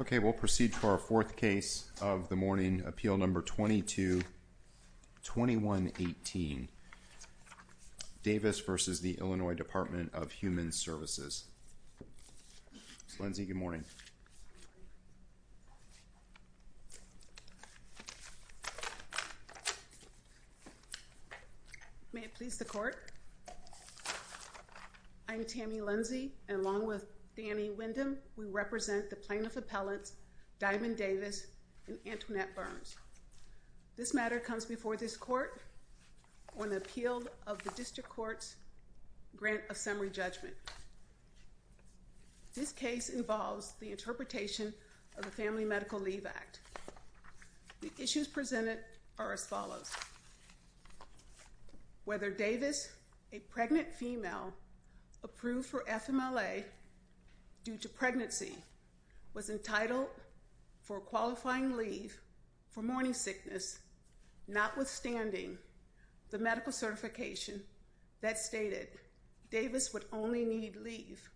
Okay, we'll proceed to our fourth case of the morning appeal number 2218. Davis versus the Illinois Department of Human Services. Lindsay, good morning. May it please the court. I'm Tammy Lindsay, along with Danny Wyndham. We represent the plaintiff appellants Diamond Davis and Antoinette Burns. This matter comes before this court on the appeal of the district court's grant of summary judgment. This case involves the interpretation of the Family Medical Leave Act. The issues presented are as follows. Whether Davis, a pregnant female approved for FMLA due to pregnancy was entitled for qualifying leave for morning sickness, notwithstanding the medical certification that stated Davis would only need leave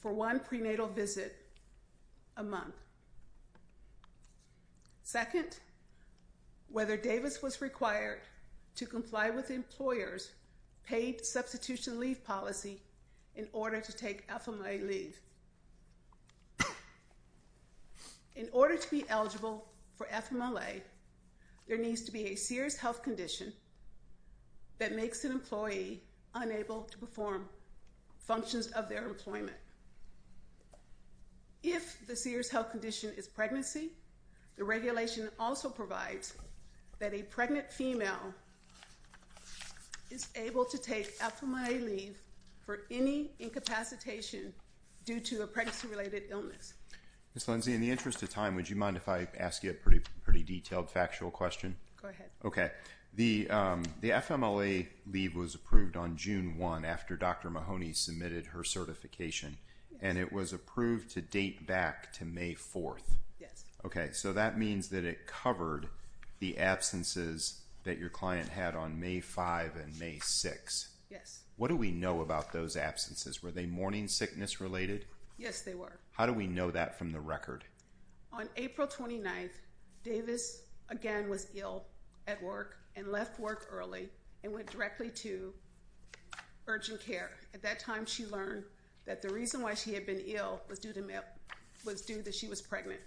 for one prenatal visit a month. Second, whether Davis was required to comply with employers paid substitution leave policy in order to take FMLA leave. In order to be eligible for FMLA, there needs to be a serious health condition that makes an employee unable to perform functions of their employment. If the serious health condition is pregnancy, the regulation also provides that a pregnant female is able to take FMLA leave for any incapacitation due to a pregnancy related illness. Miss Lindsay, in the interest of time, would you mind if I ask you a pretty, pretty detailed factual question? Go ahead. Okay. The, the FMLA leave was approved on June one after Dr. Mahoney submitted her certification, and it was approved to date back to May 4th. Yes. Okay. So that means that it covered the absences that your client had on May 5 and May 6. Yes. What do we know about those absences? Were they morning sickness related? Yes, they were. How do we know that from the record? On April 29th, Davis again was ill at work and left work early and went directly to urgent care. At that time, she learned that the reason why she had been ill was due that she was pregnant.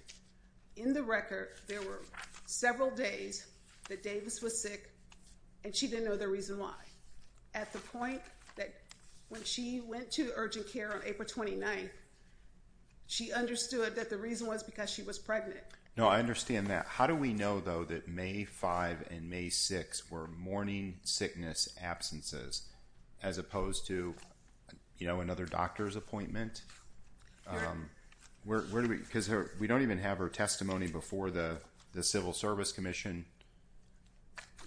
In the record, there were several days that Davis was sick and she didn't know the reason why. At the point that when she went to urgent care on April 29, she understood that the reason was because she was pregnant. No, I understand that. How do we know though that May 5 and May 6 were morning sickness absences as opposed to, you know, another doctor's appointment? Because we don't even have her testimony before the Civil Service Commission.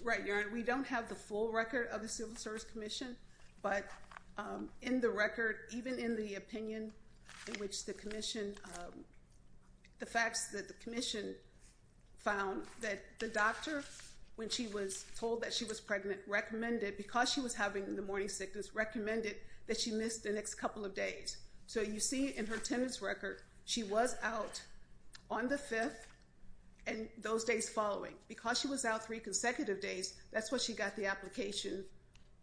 Right. We don't have the full record of the Civil Service Commission, but in the record, even in the opinion in which the commission, the facts that the commission found that the doctor, when she was told that she was pregnant, recommended, because she was having the morning sickness, recommended that she missed the next couple of days. So you see in her attendance record, she was out on the 5th and those days following because she was out three consecutive days. That's what she got the application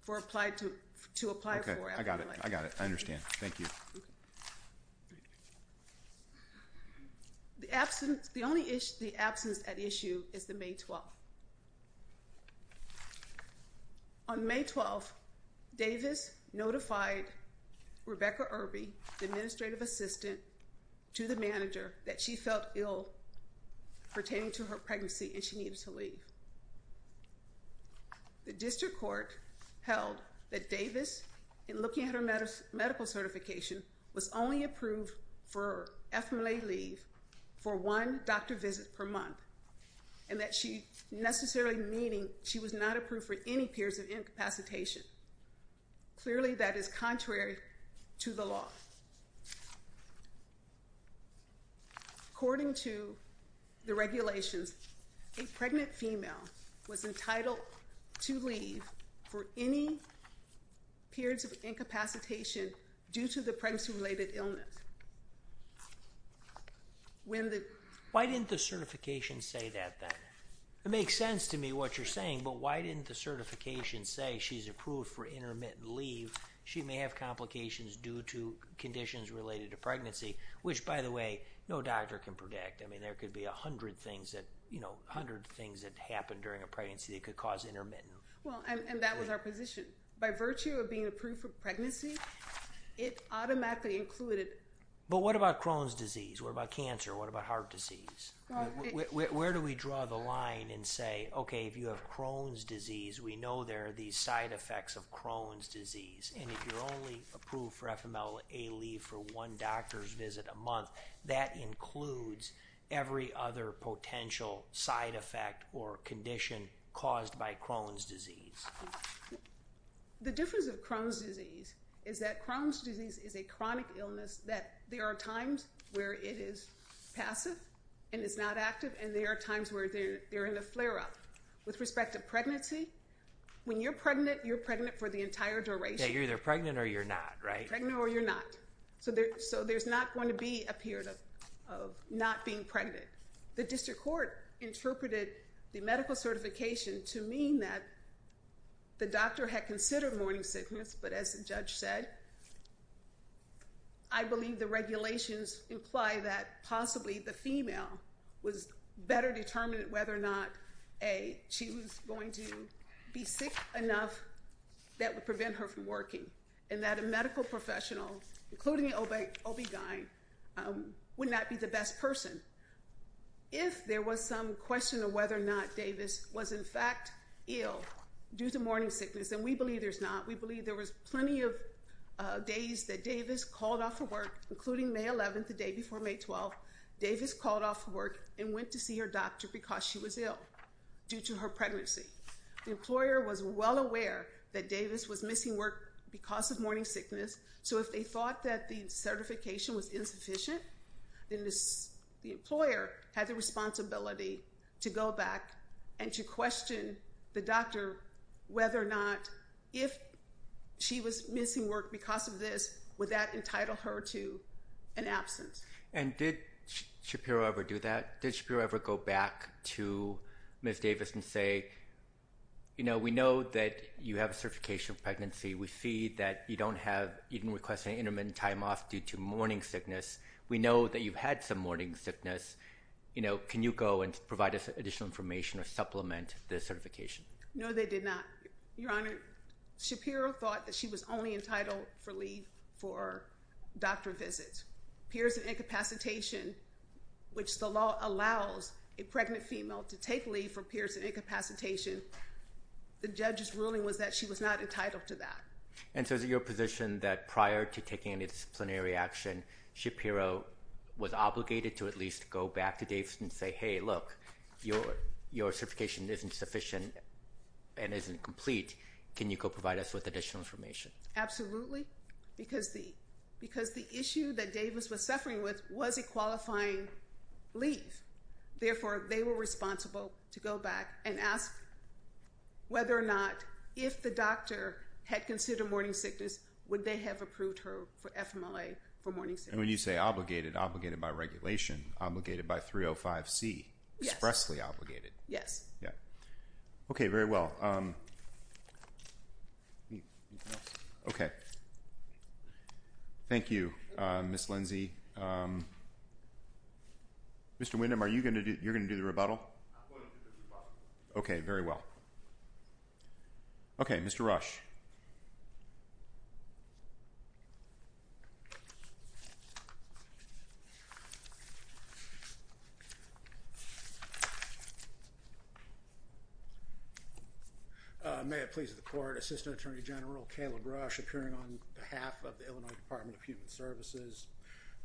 for applied to, to apply for. I got it. I got it. I understand. Thank you. The absence, the only issue, the absence at issue is the May 12. On May 12th, Davis notified Rebecca Irby, the administrative assistant, to the manager that she felt ill pertaining to her pregnancy and she needed to leave. The district court held that Davis, in looking at her medical certification, was only approved for FMLA leave for one doctor visit per month, and that she necessarily meaning she was not approved for any periods of incapacitation. Clearly, that is contrary to the law. According to the regulations, a pregnant female was entitled to leave for any periods of incapacitation due to the pregnancy related illness. Why didn't the certification say that then? It makes sense to me what you're saying, but why didn't the certification say she's approved for intermittent leave? She may have complications due to conditions related to pregnancy, which by the way, no doctor can predict. I mean, there could be 100 things that, you know, 100 things that happened during a pregnancy that could cause intermittent. Well, and that was our position. By virtue of being approved for But what about Crohn's disease? What about cancer? What about heart disease? Where do we draw the line and say, okay, if you have Crohn's disease, we know there are these side effects of Crohn's disease. And if you're only approved for FMLA leave for one doctor's visit a month, that includes every other potential side effect or condition caused by Crohn's disease. The difference of Crohn's disease is that Crohn's disease is a chronic illness that there are times where it is passive, and it's not active. And there are times where they're in a flare up with respect to pregnancy. When you're pregnant, you're pregnant for the entire duration. You're either pregnant or you're not, right? Pregnant or you're not. So there's not going to be a period of not being pregnant. The district court interpreted the medical certification to mean that the doctor had considered morning sickness. But as the judge said, I believe the regulations imply that possibly the female was better determined whether or not she was going to be sick enough that would prevent her from working and that a medical professional, including an OB-GYN, would not be the best person. If there was some question of whether or not Davis was in fact ill due to her pregnancy, we believe there was plenty of days that Davis called off her work, including May 11th, the day before May 12th. Davis called off work and went to see her doctor because she was ill due to her pregnancy. The employer was well aware that Davis was missing work because of morning sickness. So if they thought that the certification was insufficient, then the employer had the responsibility to go back and to question the she was missing work because of this, would that entitle her to an absence? And did Shapiro ever do that? Did Shapiro ever go back to Ms. Davis and say, you know, we know that you have a certification of pregnancy, we see that you don't have even requesting intermittent time off due to morning sickness. We know that you've had some morning sickness. You know, can you go and provide us additional information or supplement the certification? No, they did not. Your Honor, Shapiro thought that she was only entitled for leave for doctor visits, peers and incapacitation, which the law allows a pregnant female to take leave for peers and incapacitation. The judge's ruling was that she was not entitled to that. And so is it your position that prior to taking any disciplinary action, Shapiro was obligated to at least go back to Davis and say, hey, look, your, your certification isn't sufficient and isn't complete. Can you go provide us with additional information? Absolutely. Because the because the issue that Davis was suffering with was a qualifying leave. Therefore, they were responsible to go back and ask whether or not if the doctor had considered morning sickness, would they have approved her for FMLA for morning sickness? And when you say obligated, obligated by regulation, obligated by 305 C, expressly obligated? Yes. Yeah. Okay, very well. Okay. Thank you, Miss Lindsay. Mr. Windham, are you going to do you're going to do the rebuttal? Okay, very well. Okay, Mr. Rush. May it please the court assistant attorney general Caleb Rush appearing on behalf of the Illinois Department of Human Services.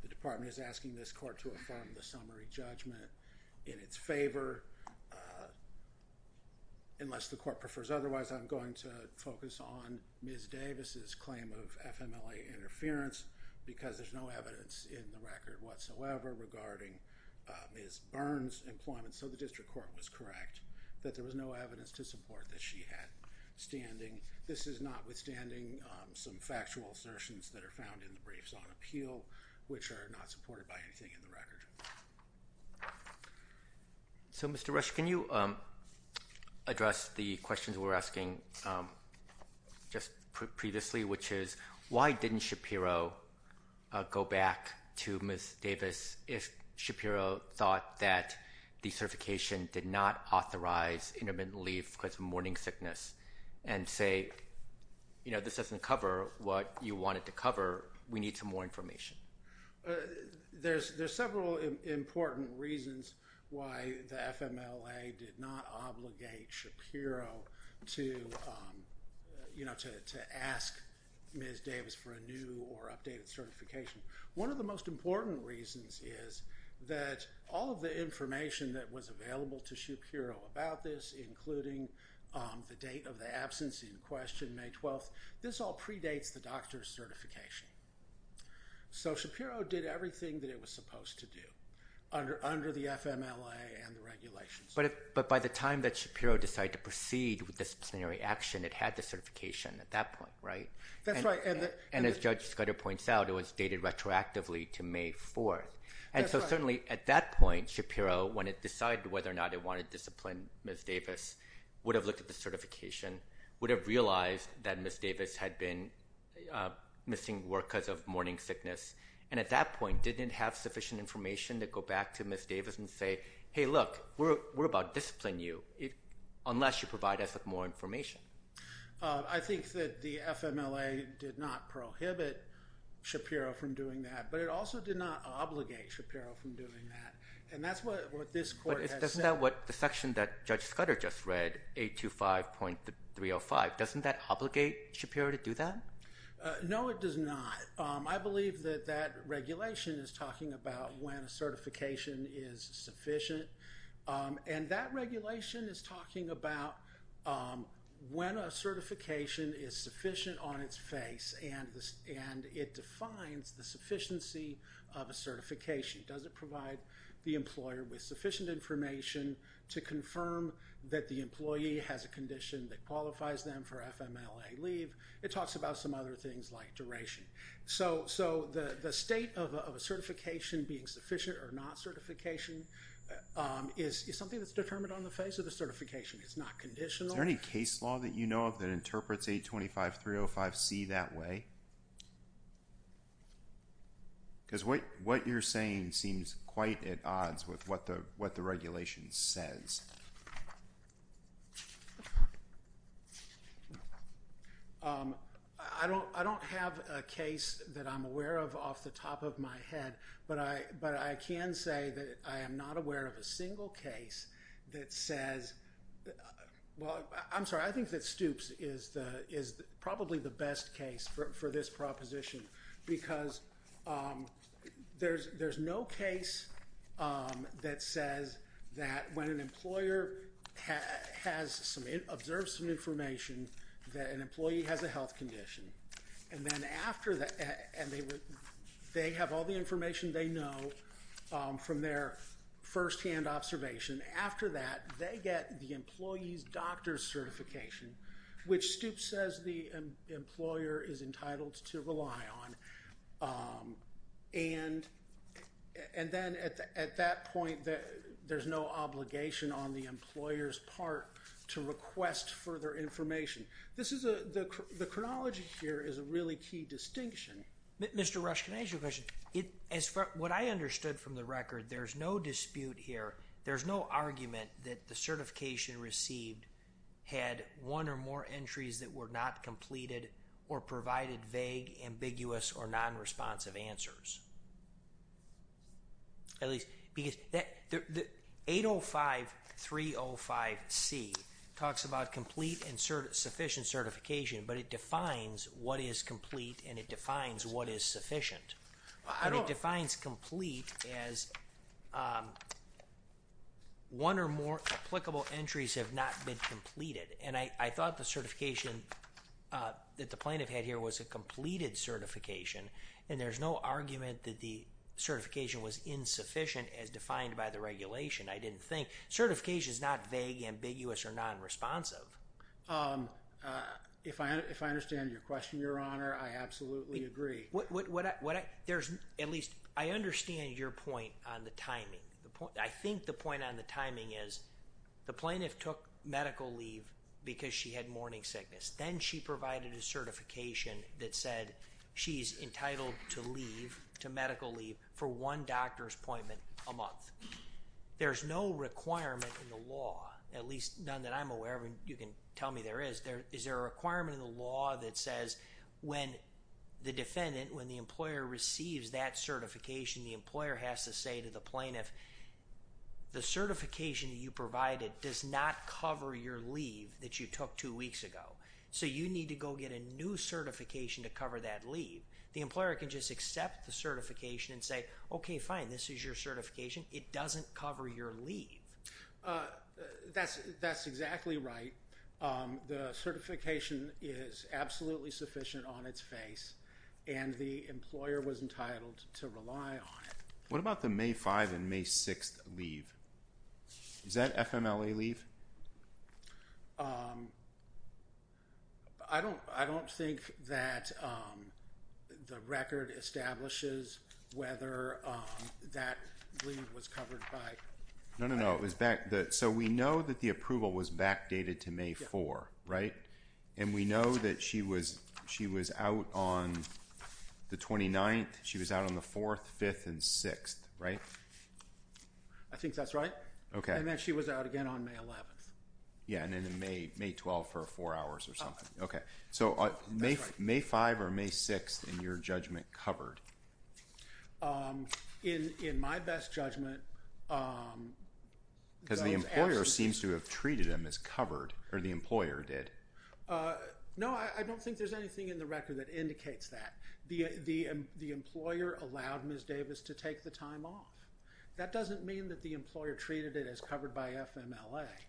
The department is asking this court to inform the summary judgment in its favor. Unless the court prefers otherwise, I'm going to focus on Ms. Davis's claim of FMLA interference, because there's no evidence in the record whatsoever regarding his burns employment. So the district court was correct, that there was no evidence to support that she had standing. This is notwithstanding some factual assertions that are found in the briefs on appeal, which are not supported by anything in the record. Okay. So, Mr. Rush, can you address the questions we were asking just previously, which is why didn't Shapiro go back to Miss Davis, if Shapiro thought that the certification did not authorize intermittent leave because of morning sickness, and say, you know, this doesn't cover what you wanted to cover, we need some more information. There's there's several important reasons why the FMLA did not obligate Shapiro to, you know, to ask Miss Davis for a new or updated certification. One of the most important reasons is that all of the information that was available to Shapiro about this, including the date of the absence in question may 12, this all predates the doctor's So Shapiro did everything that it was supposed to do under the FMLA and the regulations. But by the time that Shapiro decided to proceed with disciplinary action, it had the certification at that point, right? And as Judge Scudder points out, it was dated retroactively to May 4. And so certainly at that point, Shapiro, when it decided whether or not it wanted to discipline Miss Davis, would have looked at the certification, would have realized that Miss Davis had been missing work because of And at that point, didn't have sufficient information to go back to Miss Davis and say, Hey, look, we're, we're about discipline you it unless you provide us with more information. I think that the FMLA did not prohibit Shapiro from doing that. But it also did not obligate Shapiro from doing that. And that's what this court doesn't know what the section that Judge Scudder just read 825.305. Doesn't that obligate Shapiro to do that? No, it does not. I believe that that regulation is talking about when a certification is sufficient. And that regulation is talking about when a certification is sufficient on its face and this and it defines the sufficiency of a certification doesn't provide the employer with sufficient information to confirm that the employee has a condition that other things like duration. So so the state of a certification being sufficient or not certification is something that's determined on the face of the certification. It's not conditional any case law that you know of that interprets 825.305. See that way. Because what what you're saying seems quite at odds with what the what the regulation says. I don't I don't have a case that I'm aware of off the top of my head. But I but I can say that I am not aware of a single case that says well I'm sorry I think that Stoops is the is probably the best case for this proposition because there's there's no case that says that when an employer has a employer has some observes some information that an employee has a health condition and then after that and they would they have all the information they know from their first hand observation after that they get the employee's doctor's certification which Stoops says the employer is entitled to rely on and and then at that point that there's no obligation on the employer's part to request further information. This is a the chronology here is a really key distinction. Mr. Rush can I ask you a question? It is what I understood from the record. There's no dispute here. There's no argument that the certification received had one or more entries that were not completed or provided vague ambiguous or non responsive answers. At least because that the 805 305 C talks about complete and certain sufficient certification but it defines what is complete and it defines what is sufficient. I don't defines complete as one or more applicable entries have not been completed and I thought the certification that the plaintiff had here was a completed certification and there's no argument that the certification was insufficient as defined by the regulation. I didn't think certification is not vague ambiguous or non responsive. If I if I understand your question, your honor, I absolutely agree. What what what there's at least I understand your point on the timing. The point I think the point on the timing is the plaintiff took medical leave because she had morning sickness, then she provided a certification that said she's entitled to leave to medical leave for one doctor's appointment a month. There's no requirement in the law, at least none that I'm aware of. And you can tell me there is there is there a requirement in the law that says when the defendant when the employer receives that certification, the employer has to say to the plaintiff, the certification that you provided does not cover your leave that you took two So you need to go get a new certification to cover that leave. The employer can just accept the certification and say, OK, fine, this is your certification. It doesn't cover your leave. That's that's exactly right. The certification is absolutely sufficient on its face, and the employer was entitled to rely on it. What about the May 5 and May 6 leave? Is that FMLA leave? I don't. I don't think that the record establishes whether that leave was covered by no, no, it was back that so we know that the approval was backdated to May 4, right? And we know that she was. She was out on the 29th. She was out on the 4th, 5th and 6th, right? I think that's right. OK, and then she was out again on May 11th. Yeah, and then in May May 12 for four hours or something. OK, so May May 5 or May 6 in your judgment covered. In in my best judgment. Because the employer seems to have treated him as covered or the employer did. No, I don't think there's anything in the record that indicates that the the the employer allowed Ms Davis to take the time off. That doesn't mean that the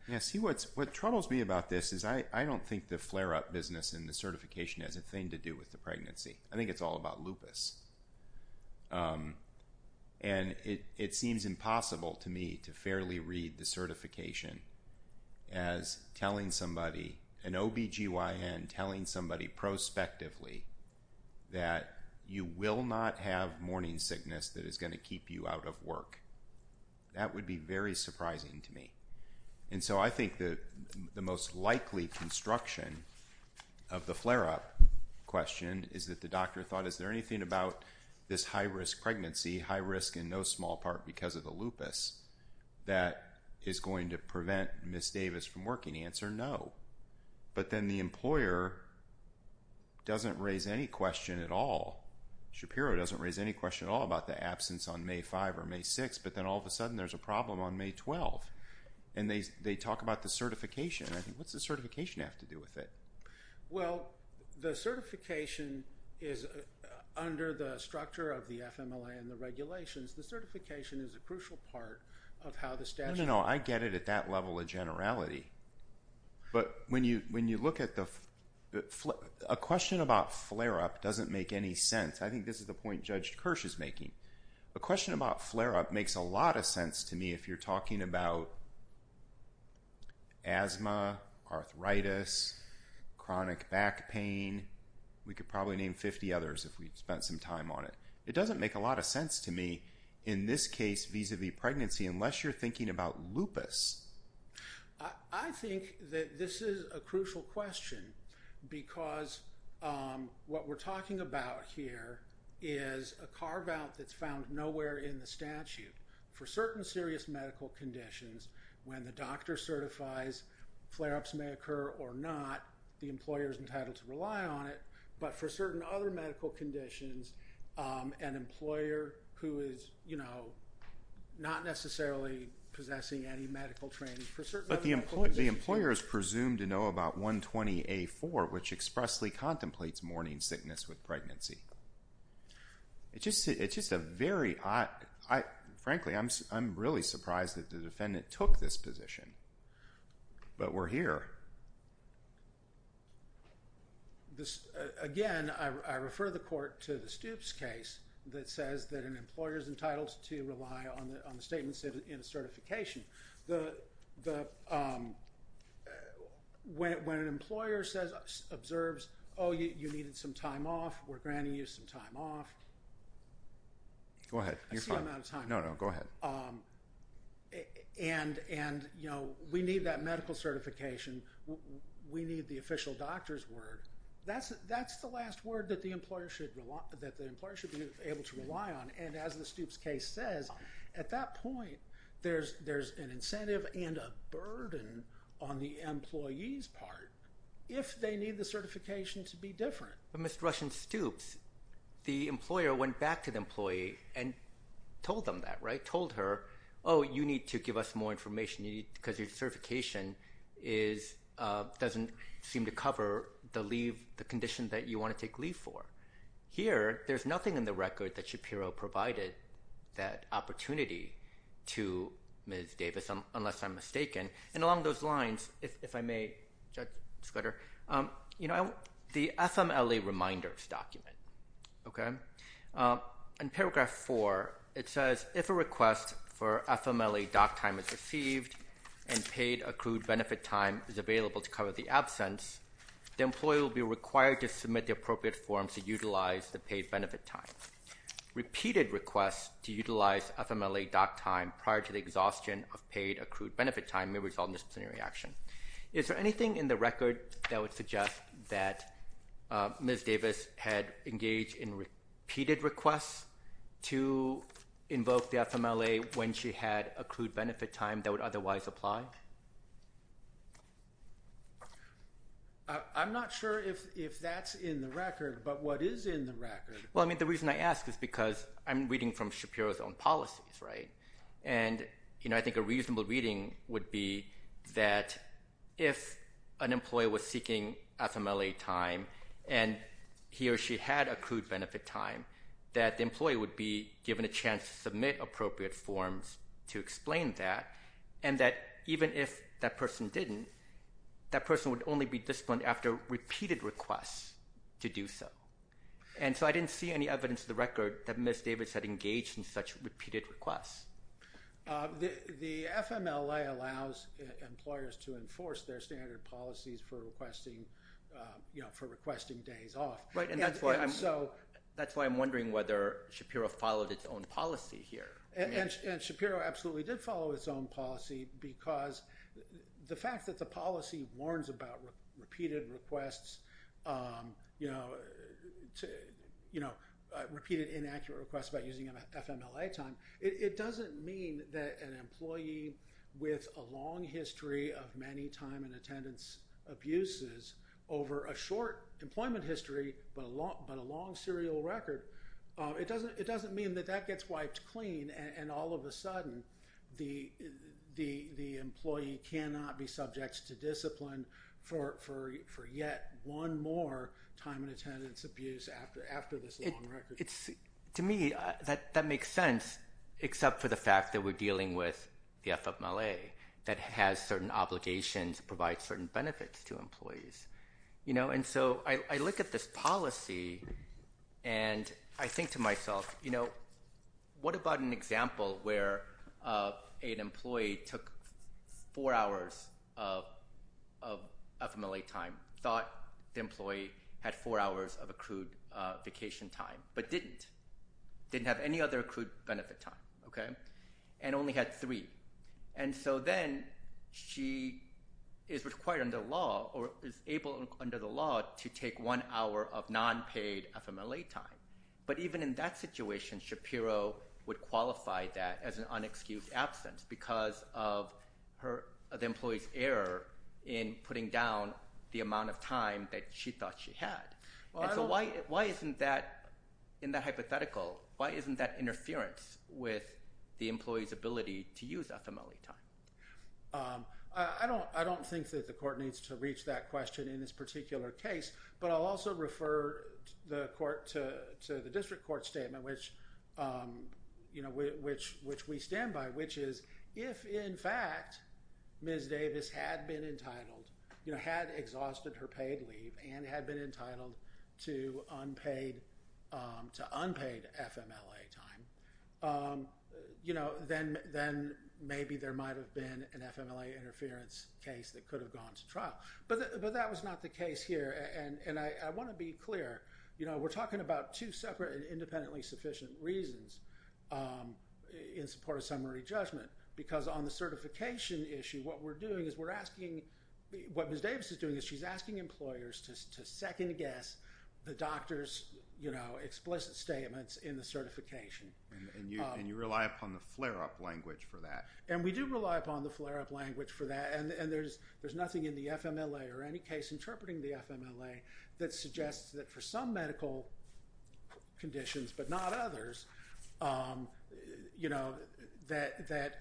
Yes, he what's what troubles me about this is I I don't think the flare up business in the certification as a thing to do with the pregnancy. I think it's all about lupus. And it it seems impossible to me to fairly read the certification. As telling somebody an OBGYN telling somebody prospectively. That you will not have morning sickness that is going to keep you out of work. That would be very surprising to me. And so I think that the most likely construction of the flare up question is that the doctor thought. Is there anything about this high risk pregnancy? High risk in no small part because of the lupus that is going to prevent Miss Davis from working answer no. But then the employer. Doesn't raise any question at all. Shapiro doesn't raise any question all about the absence on May 5 or May 6, but then all of a sudden there's a problem on May 12. And they they talk about the certification. I think what's the certification have to do with it? Well, the certification is under the structure of the FMLA and the regulations. The certification is a crucial part of how the statute. No, I get it at that level of generality. But when you when you look at the flip a question about flare up doesn't make any sense. I think this is the point judged Kirsch is making a question about flare up makes a lot of sense to me if you're talking about. Asthma, arthritis, chronic back pain. We could probably name 50 others if we spent some time on it. It doesn't make a lot of sense to me in this case vis a vis pregnancy unless you're thinking about lupus. I think that this is a crucial question because what we're talking about here is a carve out that's found nowhere in the statute for certain serious medical conditions when the doctor certifies flare ups may occur or not. The employer is entitled to rely on it, but for certain other medical conditions, an employer who is, you know. Not necessarily possessing any medical training for certain the employer is presumed to know about 120 A4, which expressly contemplates morning sickness with pregnancy. It's just it's just a very odd. Frankly, I'm I'm really surprised that the defendant took this position. But we're here. This again, I refer the court to the Stoops case that says that an employer is entitled to rely on the statements in certification. The when an employer says observes, oh, you needed some time off. We're granting you some time off. Go ahead. I'm out of time. No, no, go ahead. And and you know, we need that medical certification. We need the official doctor's word. That's that's the last word that the employer should rely that the employer should be able to There's there's an incentive and a burden on the employees part if they need the certification to be different. But Mr. Russian Stoops, the employer went back to the employee and told them that right told her. Oh, you need to give us more information you need because your certification is doesn't seem to cover the leave the condition that you want to take leave for here. There's nothing in the record that Shapiro provided that opportunity to Ms. Davis, unless I'm mistaken. And along those lines, if I may, Judge Scudder, you know, the FMLA reminders document. Okay. In paragraph four, it says if a request for FMLA doc time is received and paid accrued benefit time is available to cover the absence, the employer will be required to submit the appropriate forms to repeated requests to utilize FMLA doc time prior to the exhaustion of paid accrued benefit time may result in disciplinary action. Is there anything in the record that would suggest that Ms. Davis had engaged in repeated requests to invoke the FMLA when she had accrued benefit time that would otherwise apply? I'm not sure if if that's in the record, but what is in the I'm reading from Shapiro's own policies, right? And, you know, I think a reasonable reading would be that if an employee was seeking FMLA time, and he or she had accrued benefit time, that the employee would be given a chance to submit appropriate forms to explain that. And that even if that person didn't, that person would only be disciplined after repeated requests to do so. And so I didn't see any evidence of the record that Ms. Davis had engaged in such repeated requests. The FMLA allows employers to enforce their standard policies for requesting, you know, for requesting days off, right. And so that's why I'm wondering whether Shapiro followed its own policy here. And Shapiro absolutely did follow its own policy, because the fact that inaccurate request by using an FMLA time, it doesn't mean that an employee with a long history of many time and attendance abuses over a short employment history, but a long but a long serial record, it doesn't it doesn't mean that that gets wiped clean. And all of a sudden, the the the employee cannot be subject to discipline for for for yet one more time and attendance abuse after after this long record. To me, that that makes sense, except for the fact that we're dealing with the FMLA that has certain obligations to provide certain benefits to employees, you know, and so I look at this policy. And I think to myself, you know, what about an example where an employee took four hours of FMLA time thought the didn't have any other accrued benefit time, okay, and only had three. And so then she is required under law or is able under the law to take one hour of non paid FMLA time. But even in that situation, Shapiro would qualify that as an unexcused absence because of her employees error in putting down the amount of time that she thought she had. So why, why isn't that in that hypothetical? Why isn't that interference with the employee's ability to use FMLA time? I don't I don't think that the court needs to reach that question in this particular case. But I'll also refer the court to the district court statement, which you know, which which we stand by, which is, if in fact, Ms. Davis had been paid leave and had been entitled to unpaid to unpaid FMLA time, you know, then then maybe there might have been an FMLA interference case that could have gone to trial. But but that was not the case here. And I want to be clear, you know, we're talking about two separate and independently sufficient reasons in support of summary judgment, because on the certification issue, what we're doing is we're asking what Ms. Davis said, and we're asking employers to second guess the doctors, you know, explicit statements in the certification. And you rely upon the flare up language for that. And we do rely upon the flare up language for that. And there's, there's nothing in the FMLA or any case interpreting the FMLA that suggests that for some medical conditions, but not others, you know, that that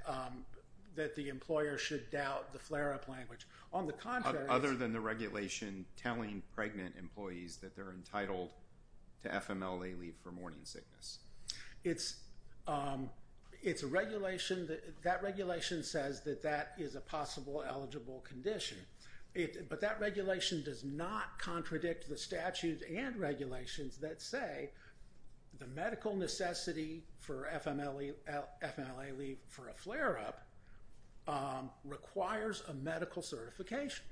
that the employer should doubt the flare up language on the contrary, other than the regulation telling pregnant employees that they're entitled to FMLA leave for morning sickness. It's it's a regulation that that regulation says that that is a possible eligible condition. But that regulation does not contradict the statutes and regulations that say the medical necessity for FMLA, FMLA leave for a flare up requires a medical certification.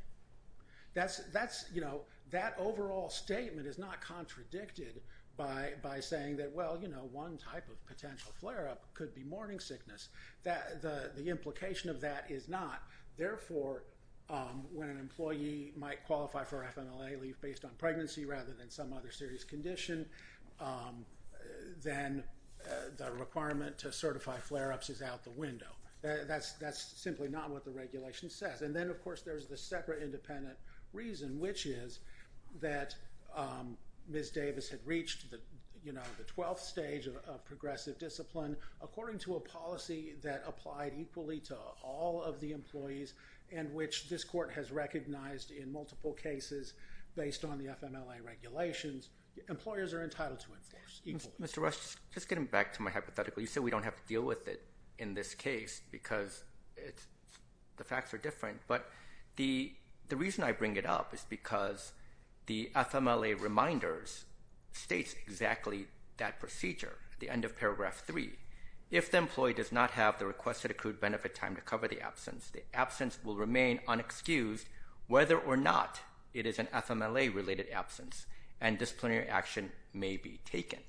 That's, that's, you know, that overall statement is not contradicted by by saying that, well, you know, one type of potential flare up could be morning sickness, that the implication of that is not therefore, when an employee might qualify for FMLA leave based on pregnancy rather than some other serious condition, then the requirement to certify flare ups is out the window. That's, that's simply not what the regulation says. And then, of course, there's the separate independent reason, which is that Ms. Davis had reached the, you know, the 12th stage of progressive discipline, according to a policy that applied equally to all of the employees, and which this court has recognized in multiple cases, based on the FMLA regulations, employers are entitled to enforce. Mr. Rush, just getting back to my hypothetical, you said we don't have to deal with it in this case, because it's, the facts are different. But the, the reason I bring it up is because the FMLA reminders states exactly that procedure, the end of paragraph three, if the employee does not have the requested accrued benefit time to cover the absence, the absence will remain unexcused, whether or not it is an FMLA related absence, and disciplinary action may be taken.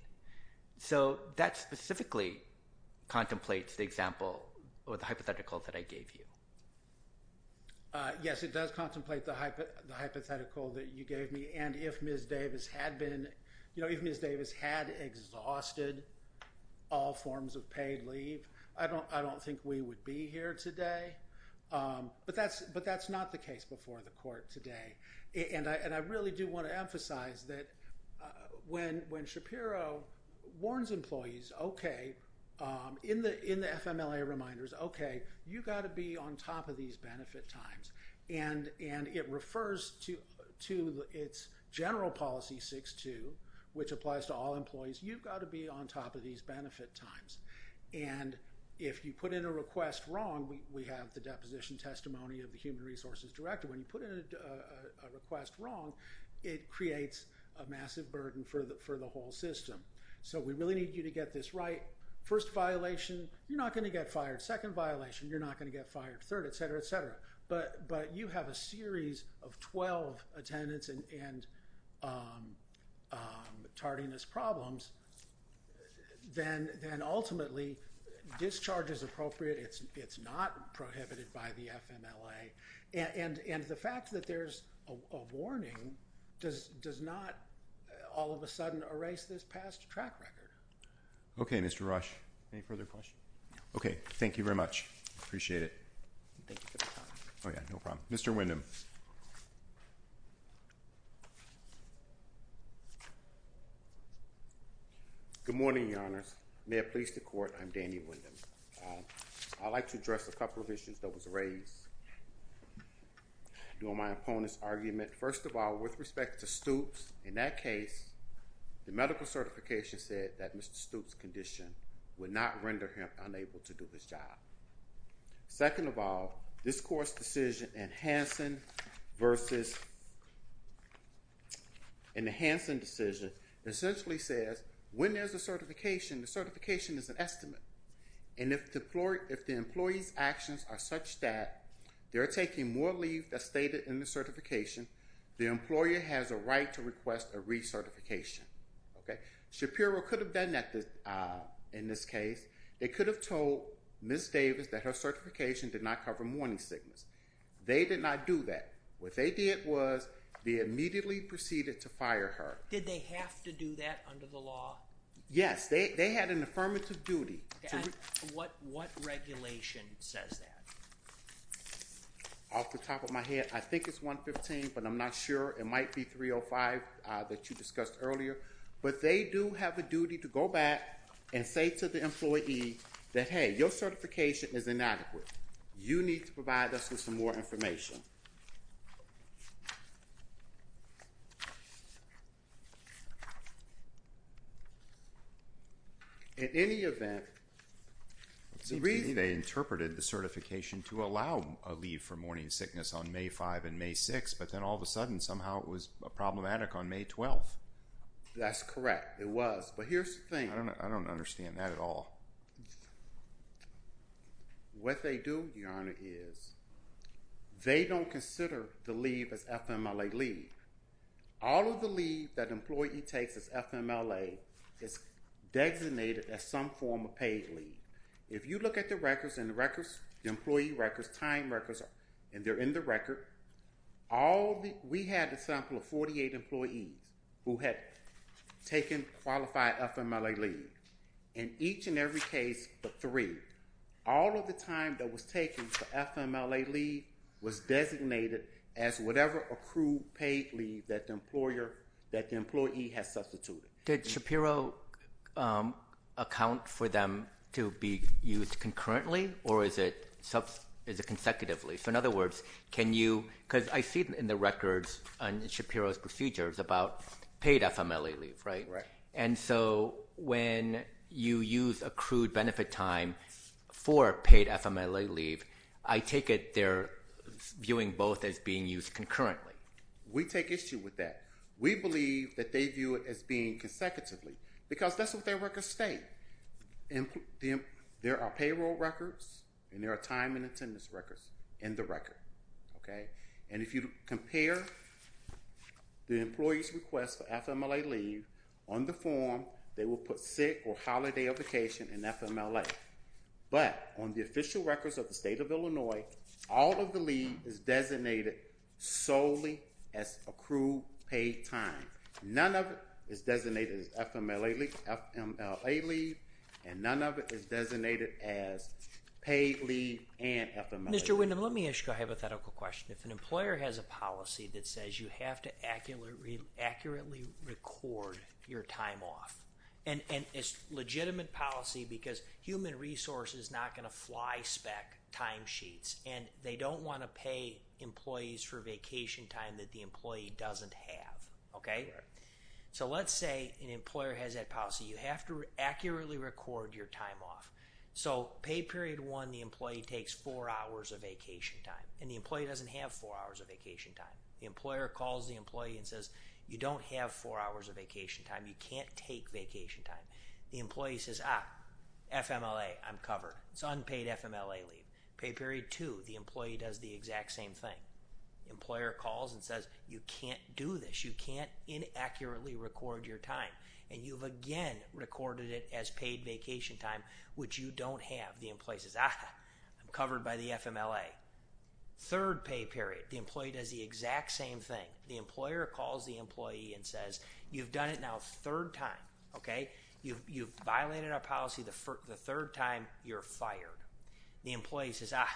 So that specifically contemplates the example or the hypothetical that I gave you. Yes, it does contemplate the hypothetical that you gave me. And if Ms. Davis had been, you know, if Ms. Davis had exhausted all forms of paid leave, I don't, I don't think we would be here today. But that's, but that's not the case before the court today. And I really do want to emphasize that when when Shapiro warns employees, okay, in the in the FMLA reminders, okay, you got to be on top of these benefit times. And, and it refers to, to its general policy six, two, which applies to all employees, you've got to be on top of these benefit times. And if you put in a request wrong, we have the deposition testimony of the human resources director, when you put in a request wrong, it creates a massive burden for the for the whole system. So we really need you to get this right. First violation, you're not going to get fired, second violation, you're not going to get fired, third, etc, etc. But but you have a series of 12 attendance and tardiness problems, then then ultimately, discharge is appropriate. It's not prohibited by the FMLA. And and the fact that there's a warning does does not all of a sudden erase this past track record. Okay, Mr. Rush. Any further questions? Okay, thank you very much. Appreciate it. Thank you. Oh, yeah, no problem. Mr. Wyndham. Good morning, Your Honor. May it please the court. I'm Danny Wyndham. I'd like to address a couple of issues that was raised during my opponent's argument. First of all, with respect to Stoops, in that case, the medical certification said that Mr. Stoops condition would not render him unable to do this job. Second of all, this court's decision in Hansen versus in the Hansen decision, essentially says, when there's certification, the certification is an estimate. And if the floor, if the employee's actions are such that they're taking more leave as stated in the certification, the employer has a right to request a recertification. Okay, Shapiro could have done that. In this case, they could have told Miss Davis that her certification did not cover morning sickness. They did not do that. What they did was they immediately proceeded to fire her. Did they have to do that under the law? Yes, they had an affirmative duty. What regulation says that? Off the top of my head, I think it's 115, but I'm not sure. It might be 305 that you discussed earlier, but they do have a duty to go back and say to the employee that, hey, your certification is inadequate. You need to provide us with some more information. In any event, they interpreted the certification to allow a leave for morning sickness on May 5 and May 6, but then all of a sudden, somehow it was problematic on May 12. That's correct. It was, but here's the thing. I don't understand that at all. What they do, Your Honor, is they don't consider the leave as FMLA leave. All of the leave that employee takes as FMLA is designated as some form of paid leave. If you look at the records and the records, the employee records, time records, and they're in the record, we had a sample of 48 employees who had taken qualified FMLA leave. In each and every case, but three, all of the time that was taken for FMLA leave was designated as whatever accrued paid leave that the employee has substituted. Did Shapiro account for them to be used concurrently, or is it consecutively? In other words, can you, because I see in the paid FMLA leave. When you use accrued benefit time for paid FMLA leave, I take it they're viewing both as being used concurrently. We take issue with that. We believe that they view it as being consecutively because that's what their records state. There are payroll records, and there are time and attendance records in the record. If you compare the employee's request for FMLA leave on the form, they will put sick or holiday of vacation in FMLA, but on the official records of the state of Illinois, all of the leave is designated solely as accrued paid time. None of it is designated as FMLA leave, and none of it is designated as paid leave and FMLA leave. Mr. Windham, let me ask you a hypothetical question. If an employer has a policy that says you have to accurately record your time off, and it's legitimate policy because human resource is not going to fly spec time sheets, and they don't want to pay employees for vacation time that the employee doesn't have, OK? So let's say an employer has that policy. You have to accurately record your time off. So pay period one, the employee takes four hours of vacation time, and the employee doesn't have four hours of vacation time. The employer calls the employee and says, you don't have four hours of vacation time. You can't take vacation time. The employee says, ah, FMLA, I'm covered. It's unpaid FMLA leave. Pay period two, the employee does the exact same thing. The employer calls and says, you can't do this. You can't inaccurately record your time, and you've again recorded it as paid vacation time, which you don't have. The employee says, ah, I'm covered by the FMLA. Third pay period, the employee does the exact same thing. The employer calls the employee and says, you've done it now third time, OK? You've violated our policy the third time, you're fired. The employee says, ah,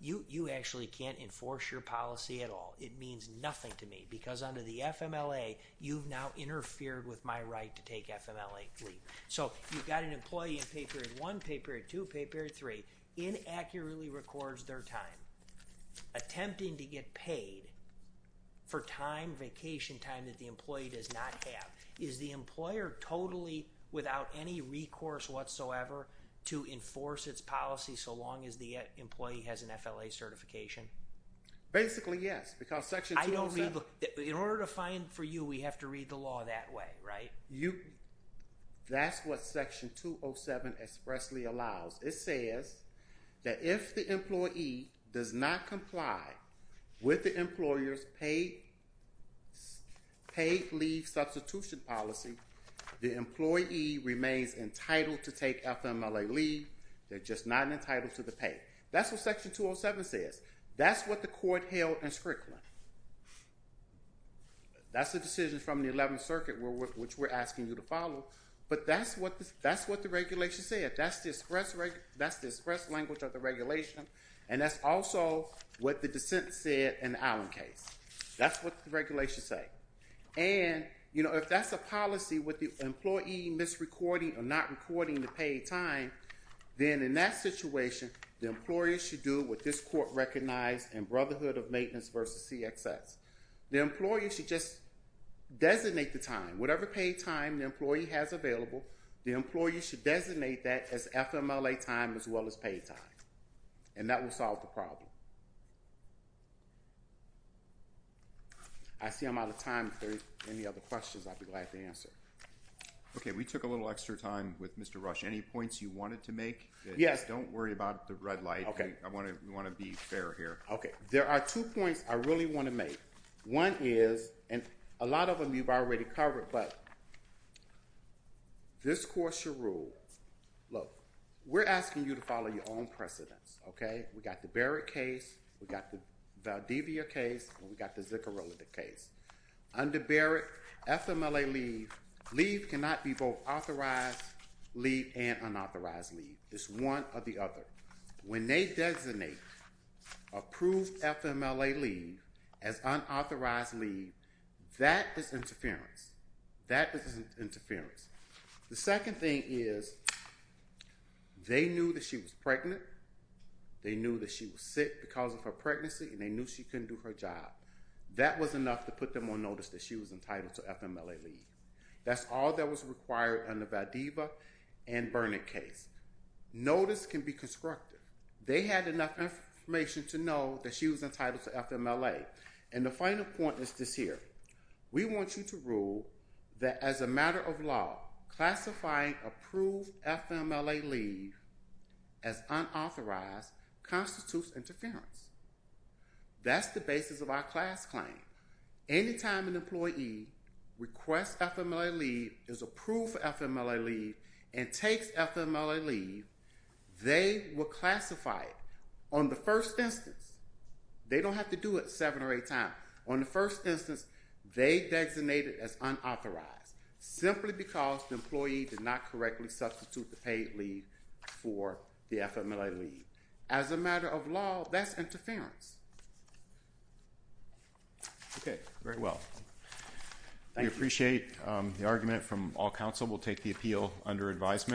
you actually can't enforce your policy at all. It means nothing to me because under the FMLA, you've now interfered with my right to take FMLA leave. So you've got an employee in pay period one, pay period two, pay period three, inaccurately records their time. Attempting to get paid for time, vacation time that the employee does not have. Is the employer totally without any recourse whatsoever to enforce its policy so long as the employee has an FLA certification? Basically, yes, because section 207. In order to find for you, we have to read the law that way, right? That's what section 207 expressly allows. It says that if the employee does not comply with the employer's paid leave substitution policy, the employee remains entitled to take FMLA leave. They're just not entitled to the pay. That's what section 207 says. That's what the court held in Spricklin. That's the decision from the 11th Circuit which we're asking you to follow. But that's what the regulation said. That's the express language of the regulation. And that's also what the dissent said in the Allen case. That's what the regulation said. And, you know, if that's a policy with the employee misrecording or not recording the paid time, then in that situation, the employer should do what this court recognized in Brotherhood of Maintenance versus CXS. The employer should just designate the time. Whatever paid time the FMLA time as well as paid time. And that will solve the problem. I see I'm out of time. If there are any other questions, I'd be glad to answer. Okay. We took a little extra time with Mr. Rush. Any points you wanted to make? Yes. Don't worry about the red light. Okay. I want to be fair here. Okay. There are two points I really want to make. One is, and a lot of them you've already covered, but this court should rule, look, we're asking you to follow your own precedence, okay? We got the Barrett case, we got the Valdivia case, and we got the Zicorilla case. Under Barrett, FMLA leave, leave cannot be both authorized leave and unauthorized leave. It's one or the other. When they designate approved FMLA leave as unauthorized leave, that is interference. That is interference. The second thing is, they knew that she was pregnant, they knew that she was sick because of her pregnancy, and they knew she couldn't do her job. That was enough to put them on notice that she was entitled to FMLA leave. That's all that was required under Valdivia and Burnett case. Notice can be constructive. They had enough information to know that she was entitled to FMLA. The final point is this here. We want you to rule that as a matter of law, classifying approved FMLA leave as unauthorized constitutes interference. That's the basis of our class claim. Anytime an employee requests FMLA leave, is approved for FMLA leave, and takes FMLA leave, they will classify it. On the first instance, they don't have to do it seven or eight times. On the first instance, they designate it as unauthorized, simply because the employee did not correctly substitute the paid leave for the FMLA leave. As a matter of law, that's interference. Okay. Very well. We appreciate the argument from all counsel. We'll take the appeal under advisement.